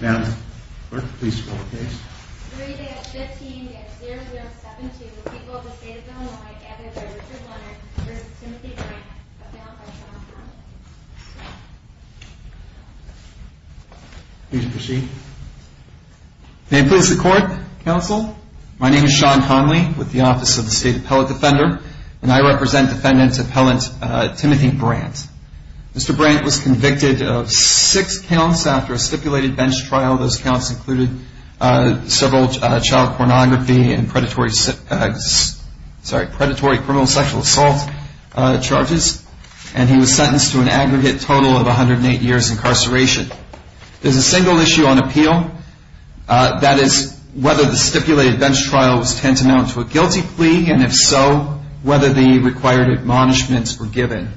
May I have the Clerk please scroll the case. 3-15-0072, the people of the State of Illinois, gathered by Richard Leonard, v. Timothy Brandt, appellant by Sean Conley. Please proceed. May it please the Court, Counsel? My name is Sean Conley, with the Office of the State Appellant Defender, and I represent Defendant Appellant Timothy Brandt. Mr. Brandt was convicted of six counts after a stipulated bench trial. Those counts included several child pornography and predatory criminal sexual assault charges, and he was sentenced to an aggregate total of 108 years incarceration. There is a single issue on appeal. That is whether the stipulated bench trial was tantamount to a guilty plea, and if so, whether the required admonishments were given.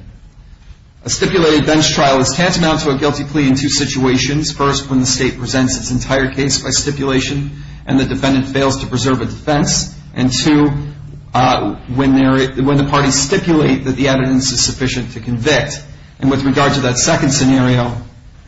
A stipulated bench trial is tantamount to a guilty plea in two situations. First, when the State presents its entire case by stipulation, and the defendant fails to preserve a defense. And two, when the parties stipulate that the evidence is sufficient to convict. And with regard to that second scenario,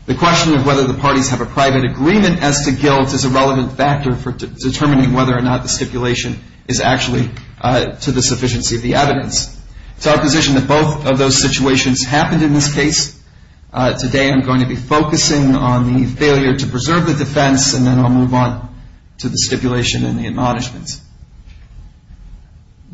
the question of whether the parties have a private agreement as to guilt is a relevant factor for determining whether or not the stipulation is actually to the sufficiency of the evidence. It's our position that both of those situations happened in this case. Today I'm going to be focusing on the failure to preserve the defense, and then I'll move on to the stipulation and the admonishments.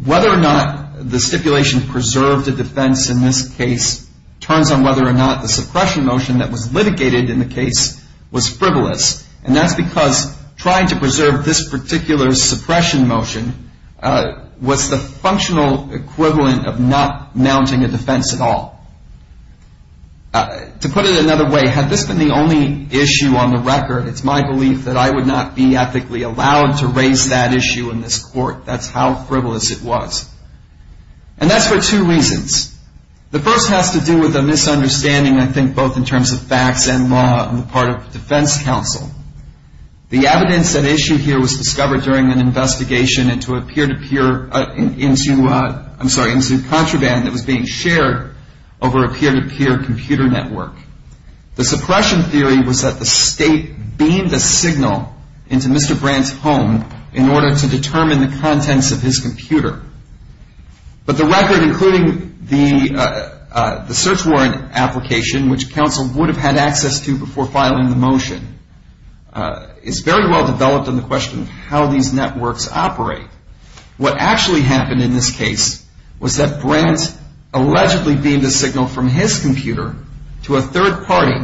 Whether or not the stipulation preserved a defense in this case turns on whether or not the suppression motion that was litigated in the case was frivolous. And that's because trying to preserve this particular suppression motion was the functional equivalent of not mounting a defense at all. To put it another way, had this been the only issue on the record, it's my belief that I would not be ethically allowed to raise that issue in this court. That's how frivolous it was. And that's for two reasons. The first has to do with a misunderstanding, I think, both in terms of facts and law on the part of the defense counsel. The evidence at issue here was discovered during an investigation into contraband that was being shared over a peer-to-peer computer network. The suppression theory was that the state beamed a signal into Mr. Brandt's home in order to determine the contents of his computer. But the record, including the search warrant application, which counsel would have had access to before filing the motion, is very well developed on the question of how these networks operate. What actually happened in this case was that Brandt allegedly beamed a signal from his computer to a third party,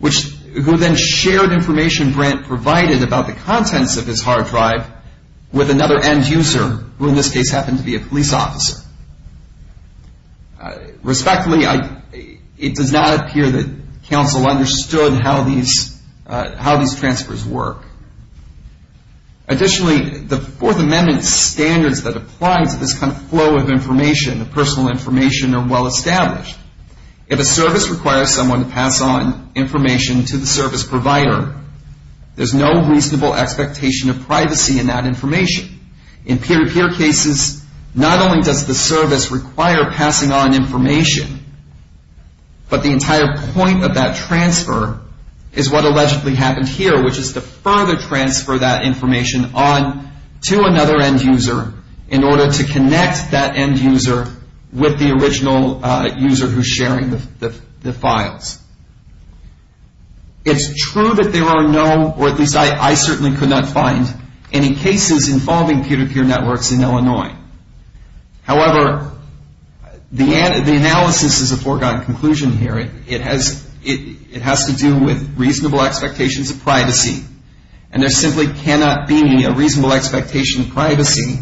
who then shared information Brandt provided about the contents of his hard drive with another end user, who in this case happened to be a police officer. Respectfully, it does not appear that counsel understood how these transfers work. Additionally, the Fourth Amendment standards that apply to this kind of flow of information, personal information, are well established. If a service requires someone to pass on information to the service provider, there's no reasonable expectation of privacy in that information. In peer-to-peer cases, not only does the service require passing on information, but the entire point of that transfer is what allegedly happened here, which is to further transfer that information on to another end user in order to connect that end user with the original user who's sharing the files. It's true that there are no, or at least I certainly could not find, any cases involving peer-to-peer networks in Illinois. However, the analysis is a foregone conclusion here. It has to do with reasonable expectations of privacy, and there simply cannot be a reasonable expectation of privacy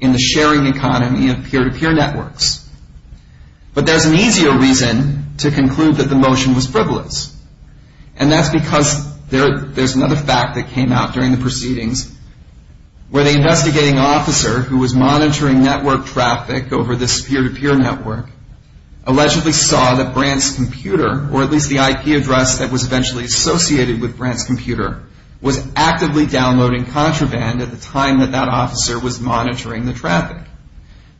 in the sharing economy of peer-to-peer networks. But there's an easier reason to conclude that the motion was frivolous, and that's because there's another fact that came out during the proceedings where the investigating officer who was monitoring network traffic over this peer-to-peer network allegedly saw that Brant's computer, or at least the IP address that was eventually associated with Brant's computer, was actively downloading contraband at the time that that officer was monitoring the traffic.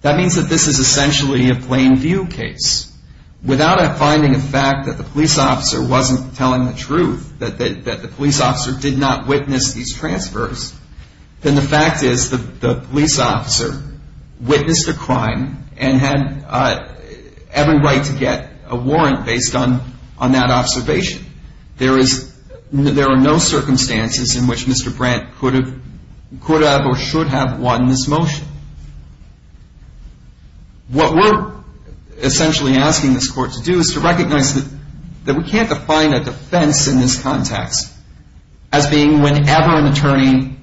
That means that this is essentially a plain view case. Without finding a fact that the police officer wasn't telling the truth, that the police officer did not witness these transfers, then the fact is the police officer witnessed a crime and had every right to get a warrant based on that observation. There are no circumstances in which Mr. Brant could have or should have won this motion. What we're essentially asking this court to do is to recognize that we can't define a defense in this context as being whenever an attorney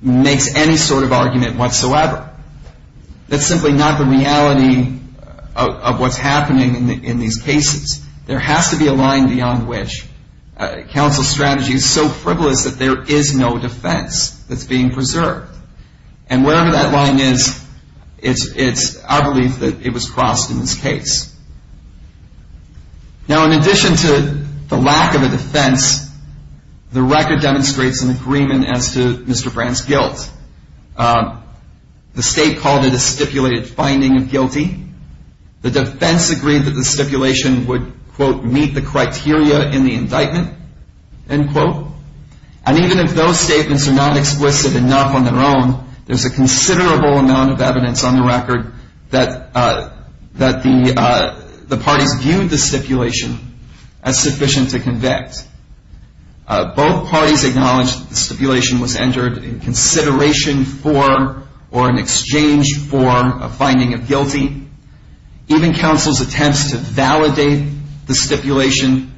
makes any sort of argument whatsoever. That's simply not the reality of what's happening in these cases. There has to be a line beyond which counsel's strategy is so frivolous that there is no defense that's being preserved. And wherever that line is, it's our belief that it was crossed in this case. Now, in addition to the lack of a defense, the record demonstrates an agreement as to Mr. Brant's guilt. The state called it a stipulated finding of guilty. The defense agreed that the stipulation would, quote, meet the criteria in the indictment, end quote. And even if those statements are not explicit enough on their own, there's a considerable amount of evidence on the record that the parties viewed the stipulation as sufficient to convict. Both parties acknowledged that the stipulation was entered in consideration for or in exchange for a finding of guilty. Even counsel's attempts to validate the stipulation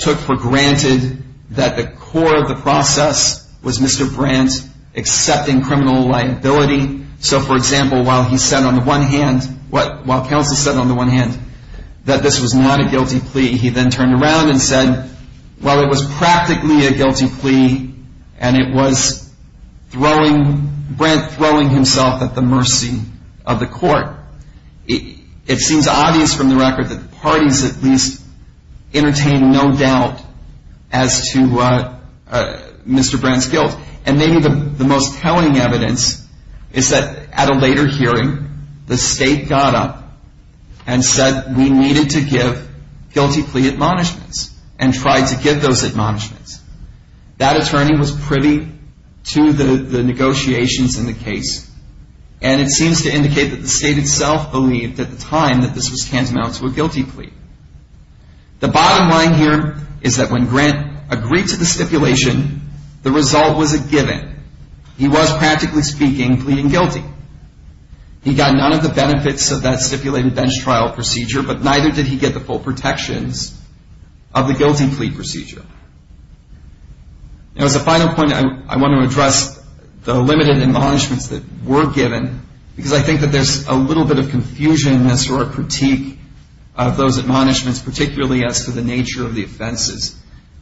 took for granted that the core of the process was Mr. Brant accepting criminal liability. So, for example, while he said on the one hand, while counsel said on the one hand that this was not a guilty plea, he then turned around and said, well, it was practically a guilty plea, and it was throwing, Brant throwing himself at the mercy of the court. It seems obvious from the record that the parties at least entertained no doubt as to Mr. Brant's guilt. And maybe the most telling evidence is that at a later hearing, the state got up and said we needed to give guilty plea admonishments and tried to give those admonishments. That attorney was privy to the negotiations in the case, and it seems to indicate that the state itself believed at the time that this was tantamount to a guilty plea. The bottom line here is that when Brant agreed to the stipulation, the result was a given. He was, practically speaking, pleading guilty. He got none of the benefits of that stipulated bench trial procedure, but neither did he get the full protections of the guilty plea procedure. Now, as a final point, I want to address the limited admonishments that were given, because I think that there's a little bit of confusion in this or a critique of those admonishments, particularly as to the nature of the offenses.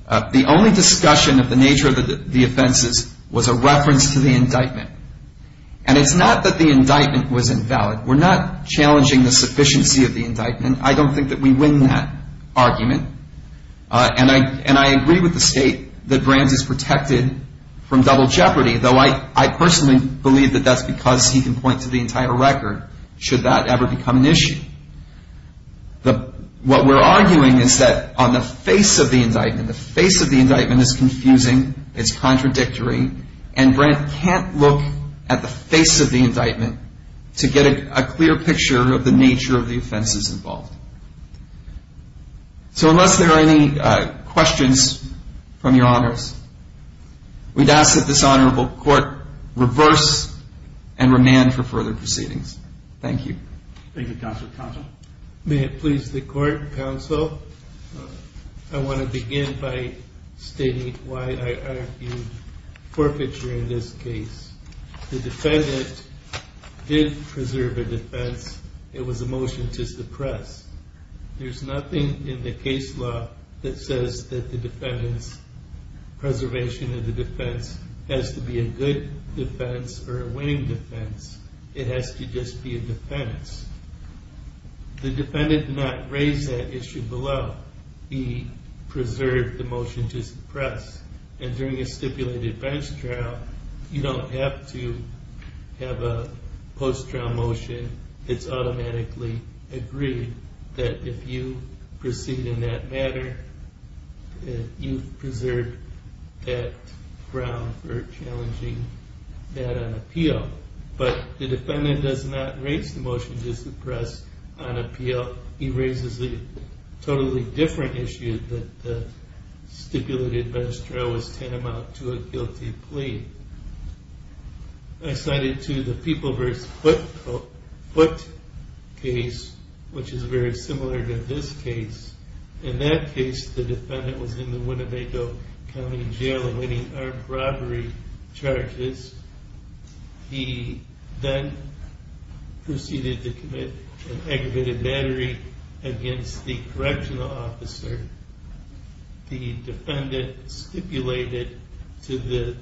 The only discussion of the nature of the offenses was a reference to the indictment. And it's not that the indictment was invalid. We're not challenging the sufficiency of the indictment. I don't think that we win that argument. And I agree with the state that Brant is protected from double jeopardy, though I personally believe that that's because he can point to the entire record, should that ever become an issue. What we're arguing is that on the face of the indictment, the face of the indictment is confusing, it's contradictory, and Brant can't look at the face of the indictment to get a clear picture of the nature of the offenses involved. So unless there are any questions from your honors, we'd ask that this honorable court reverse and remand for further proceedings. Thank you. Thank you, Counsel. Counsel. May it please the Court, Counsel, I want to begin by stating why I argued forfeiture in this case. The defendant did preserve a defense. It was a motion to suppress. There's nothing in the case law that says that the defendant's preservation of the defense has to be a good defense or a winning defense. It has to just be a defense. The defendant did not raise that issue below. He preserved the motion to suppress. And during a stipulated bench trial, you don't have to have a post-trial motion. It's automatically agreed that if you proceed in that matter, you've preserved that ground for challenging that on appeal. But the defendant does not raise the motion to suppress on appeal. He raises a totally different issue that the stipulated bench trial was tantamount to a guilty plea. I cited to the People v. Foote case, which is very similar to this case. In that case, the defendant was in the Winnebago County Jail awaiting armed robbery charges. He then proceeded to commit an aggravated battery against the correctional officer. The defendant stipulated to the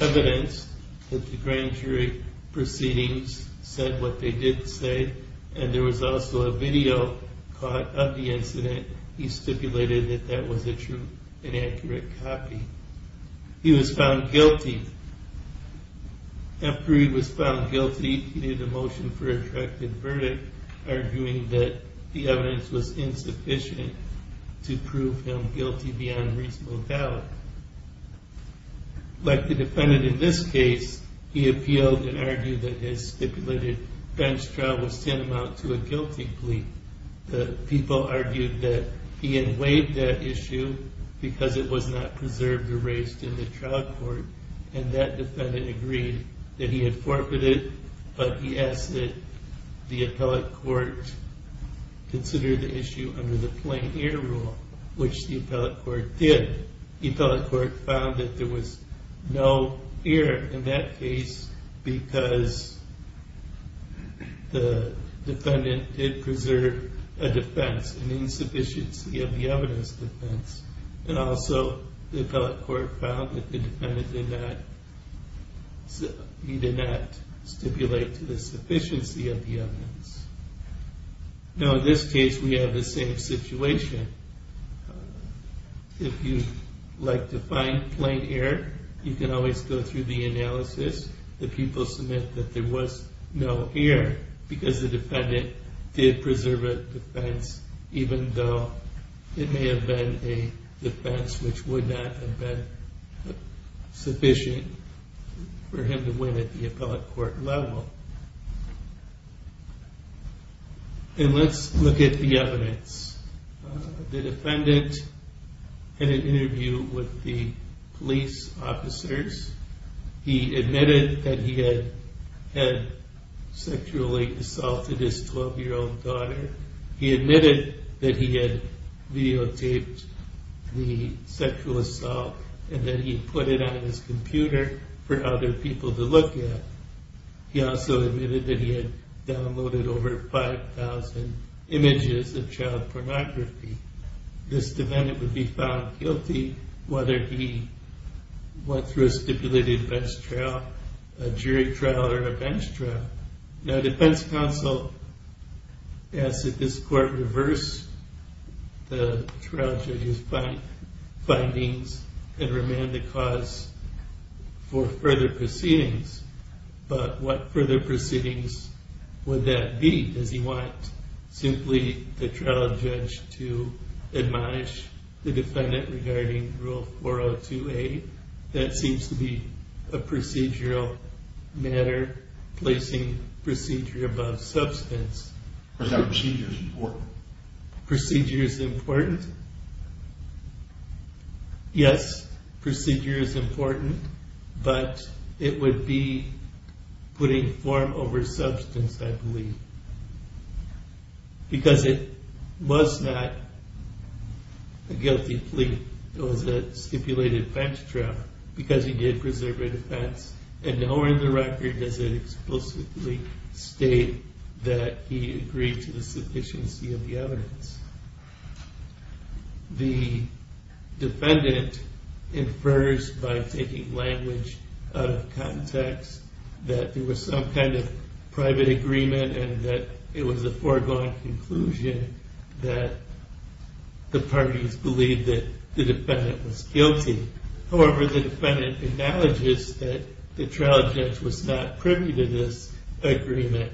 evidence that the grand jury proceedings said what they did say. And there was also a video caught of the incident. He stipulated that that was a true and accurate copy. He was found guilty. After he was found guilty, he made a motion for a corrected verdict, arguing that the evidence was insufficient to prove him guilty beyond reasonable doubt. Like the defendant in this case, he appealed and argued that his stipulated bench trial was tantamount to a guilty plea. The People argued that he had waived that issue because it was not preserved or raised in the trial court. And that defendant agreed that he had forfeited. But he asked that the appellate court consider the issue under the plain ear rule, which the appellate court did. The appellate court found that there was no error in that case because the defendant did preserve a defense, an insufficiency of the evidence defense. And also, the appellate court found that the defendant did not stipulate to the sufficiency of the evidence. Now, in this case, we have the same situation. If you'd like to find plain error, you can always go through the analysis. The People submit that there was no error because the defendant did preserve a defense, even though it may have been a defense which would not have been sufficient for him to win at the appellate court level. And let's look at the evidence. The defendant had an interview with the police officers. He admitted that he had sexually assaulted his 12-year-old daughter. He admitted that he had videotaped the sexual assault, and then he put it on his computer for other people to look at. He also admitted that he had downloaded over 5,000 images of child pornography. This defendant would be found guilty whether he went through a stipulated bench trial, a jury trial, or a bench trial. Now, defense counsel asked that this court reverse the trial judge's findings and remand the cause for further proceedings. But what further proceedings would that be? Does he want simply the trial judge to admonish the defendant regarding Rule 402A? That seems to be a procedural matter, placing procedure above substance. But that procedure is important. Procedure is important? Yes, procedure is important, but it would be putting form over substance, I believe. Because it was not a guilty plea. It was a stipulated bench trial, because he did preserve a defense. And nowhere in the record does it explicitly state that he agreed to the sufficiency of the evidence. The defendant infers by taking language out of context that there was some kind of private agreement, and that it was a foregone conclusion that the parties believed that the defendant was guilty. However, the defendant acknowledges that the trial judge was not privy to this agreement.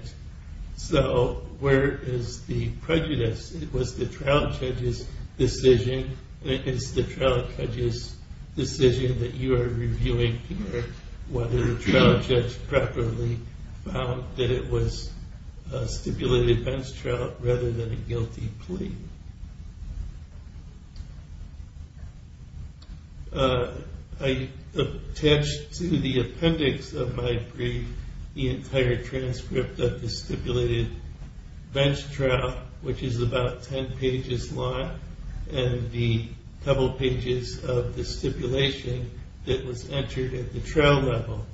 So where is the prejudice? It was the trial judge's decision, and it is the trial judge's decision that you are reviewing here whether the trial judge properly found that it was a stipulated bench trial rather than a guilty plea. I attached to the appendix of my brief the entire transcript of the stipulated bench trial, which is about 10 pages long, and the couple pages of the stipulation that was entered at the trial level.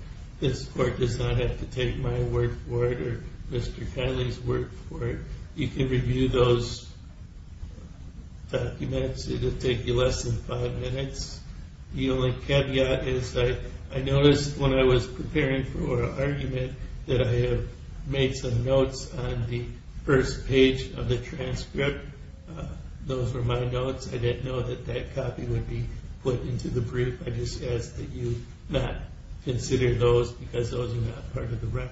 This court does not have to take my word for it or Mr. Kiley's word for it. You can review those documents. It will take you less than five minutes. The only caveat is that I noticed when I was preparing for argument that I had made some notes on the first page of the transcript. Those were my notes. I didn't know that that copy would be put into the brief. I just ask that you not consider those, because those are not part of the record.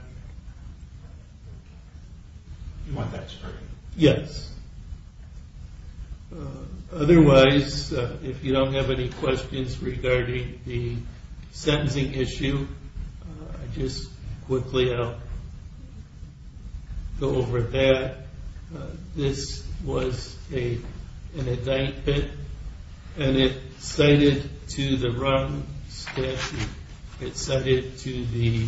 Do you want that, Mr. Kirby? Yes. Otherwise, if you don't have any questions regarding the sentencing issue, I'll just quickly go over that. This was an indictment, and it cited to the wrong statute. It cited to the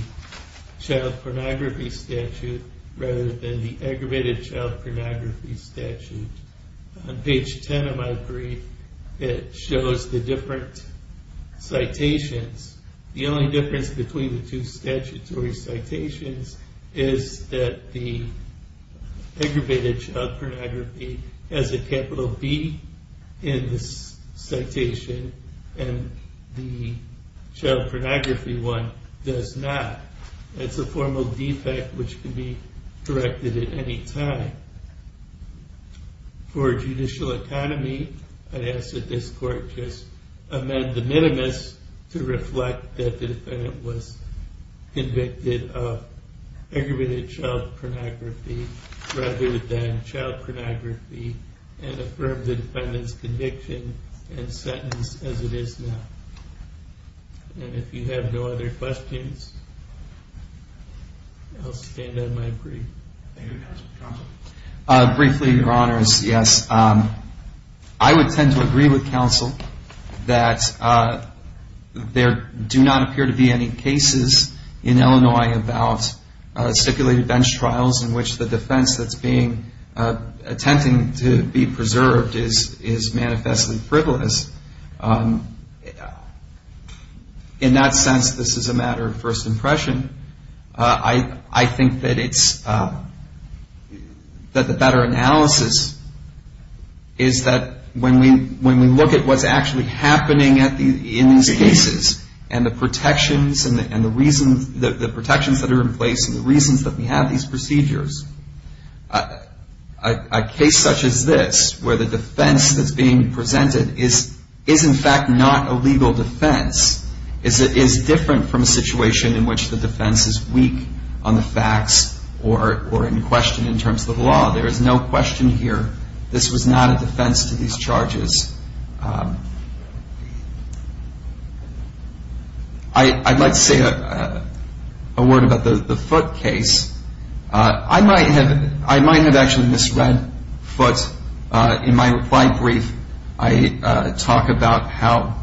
child pornography statute rather than the aggravated child pornography statute. On page 10 of my brief, it shows the different citations. The only difference between the two statutory citations is that the aggravated child pornography has a capital B in the citation, and the child pornography one does not. It's a formal defect which can be directed at any time. For judicial autonomy, I ask that this court just amend the minimus to reflect that the defendant was convicted of aggravated child pornography rather than child pornography, and affirm the defendant's conviction and sentence as it is now. If you have no other questions, I'll stand on my brief. Thank you, Counsel. Counsel? Briefly, Your Honors, yes. I would tend to agree with Counsel that there do not appear to be any cases in Illinois about stipulated bench trials in which the defense that's attempting to be preserved is manifestly frivolous. In that sense, this is a matter of first impression. I think that the better analysis is that when we look at what's actually happening in these cases and the protections that are in place and the reasons that we have these procedures, a case such as this where the defense that's being presented is in fact not a legal defense is different from a situation in which the defense is weak on the facts or in question in terms of the law. There is no question here this was not a defense to these charges. I'd like to say a word about the Foote case. I might have actually misread Foote in my reply brief. I talk about how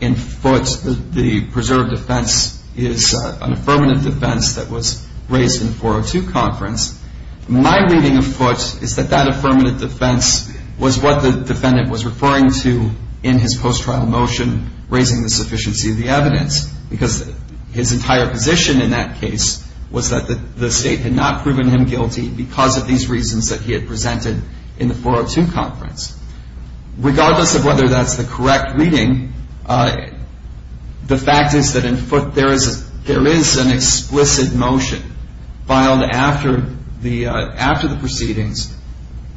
in Foote the preserved defense is an affirmative defense that was raised in the 402 Conference. My reading of Foote is that that affirmative defense was what the defendant was referring to in his post-trial motion raising the sufficiency of the evidence because his entire position in that case was that the State had not proven him guilty because of these reasons that he had presented in the 402 Conference. Regardless of whether that's the correct reading, the fact is that in Foote there is an explicit motion filed after the proceedings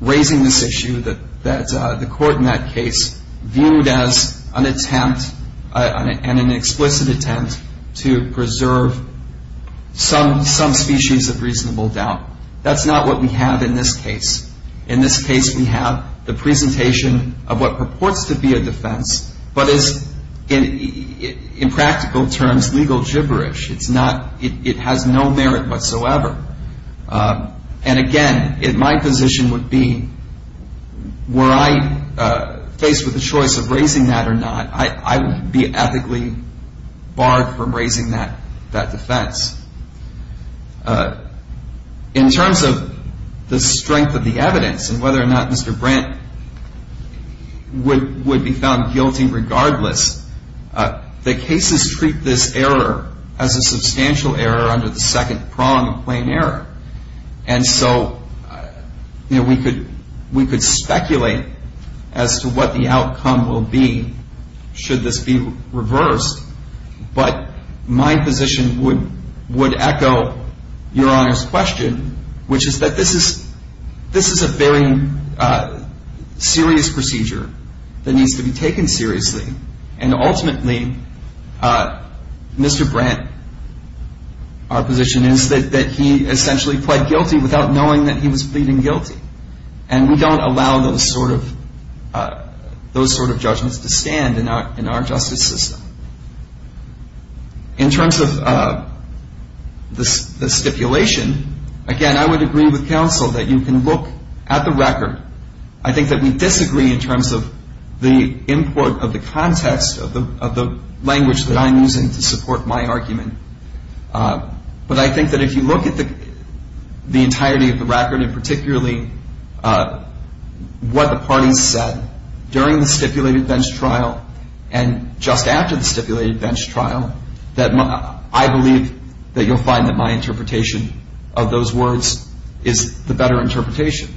raising this issue that the court in that case viewed as an attempt and an explicit attempt to preserve some species of reasonable doubt. That's not what we have in this case. In this case we have the presentation of what purports to be a defense but is in practical terms legal gibberish. It has no merit whatsoever. And again, my position would be were I faced with the choice of raising that or not, I would be ethically barred from raising that defense. In terms of the strength of the evidence and whether or not Mr. Brent would be found guilty regardless, the cases treat this error as a substantial error under the second prong of plain error. And so we could speculate as to what the outcome will be should this be reversed. But my position would echo Your Honor's question, which is that this is a very serious procedure that needs to be taken seriously. And ultimately, Mr. Brent, our position is that he essentially pled guilty without knowing that he was pleading guilty. And we don't allow those sort of judgments to stand in our justice system. In terms of the stipulation, again, I would agree with counsel that you can look at the record. I think that we disagree in terms of the import of the context of the language that I'm using to support my argument. But I think that if you look at the entirety of the record, and particularly what the parties said during the stipulated bench trial and just after the stipulated bench trial, that I believe that you'll find that my interpretation of those words is the better interpretation.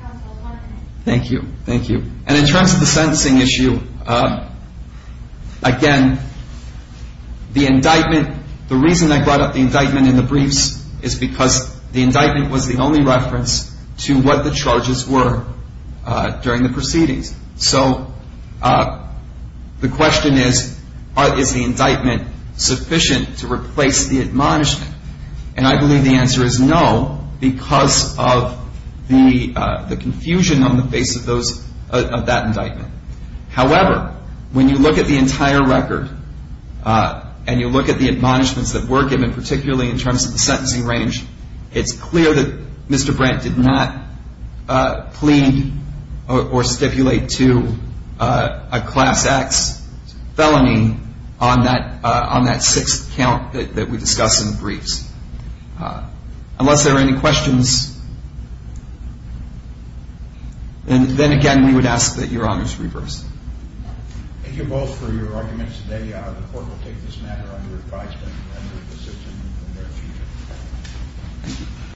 Counsel, one minute. Thank you. Thank you. And in terms of the sentencing issue, again, the indictment, the reason I brought up the indictment in the briefs is because the indictment was the only reference to what the charges were during the proceedings. So the question is, is the indictment sufficient to replace the admonishment? And I believe the answer is no because of the confusion on the face of that indictment. However, when you look at the entire record and you look at the admonishments that were given, particularly in terms of the sentencing range, it's clear that Mr. Brandt did not plead or stipulate to a class X felony on that sixth count that we discuss in the briefs. Unless there are any questions, then again, we would ask that Your Honor's reverse. Thank you both for your arguments today. The court will take this matter under advisement under a decision in the near future.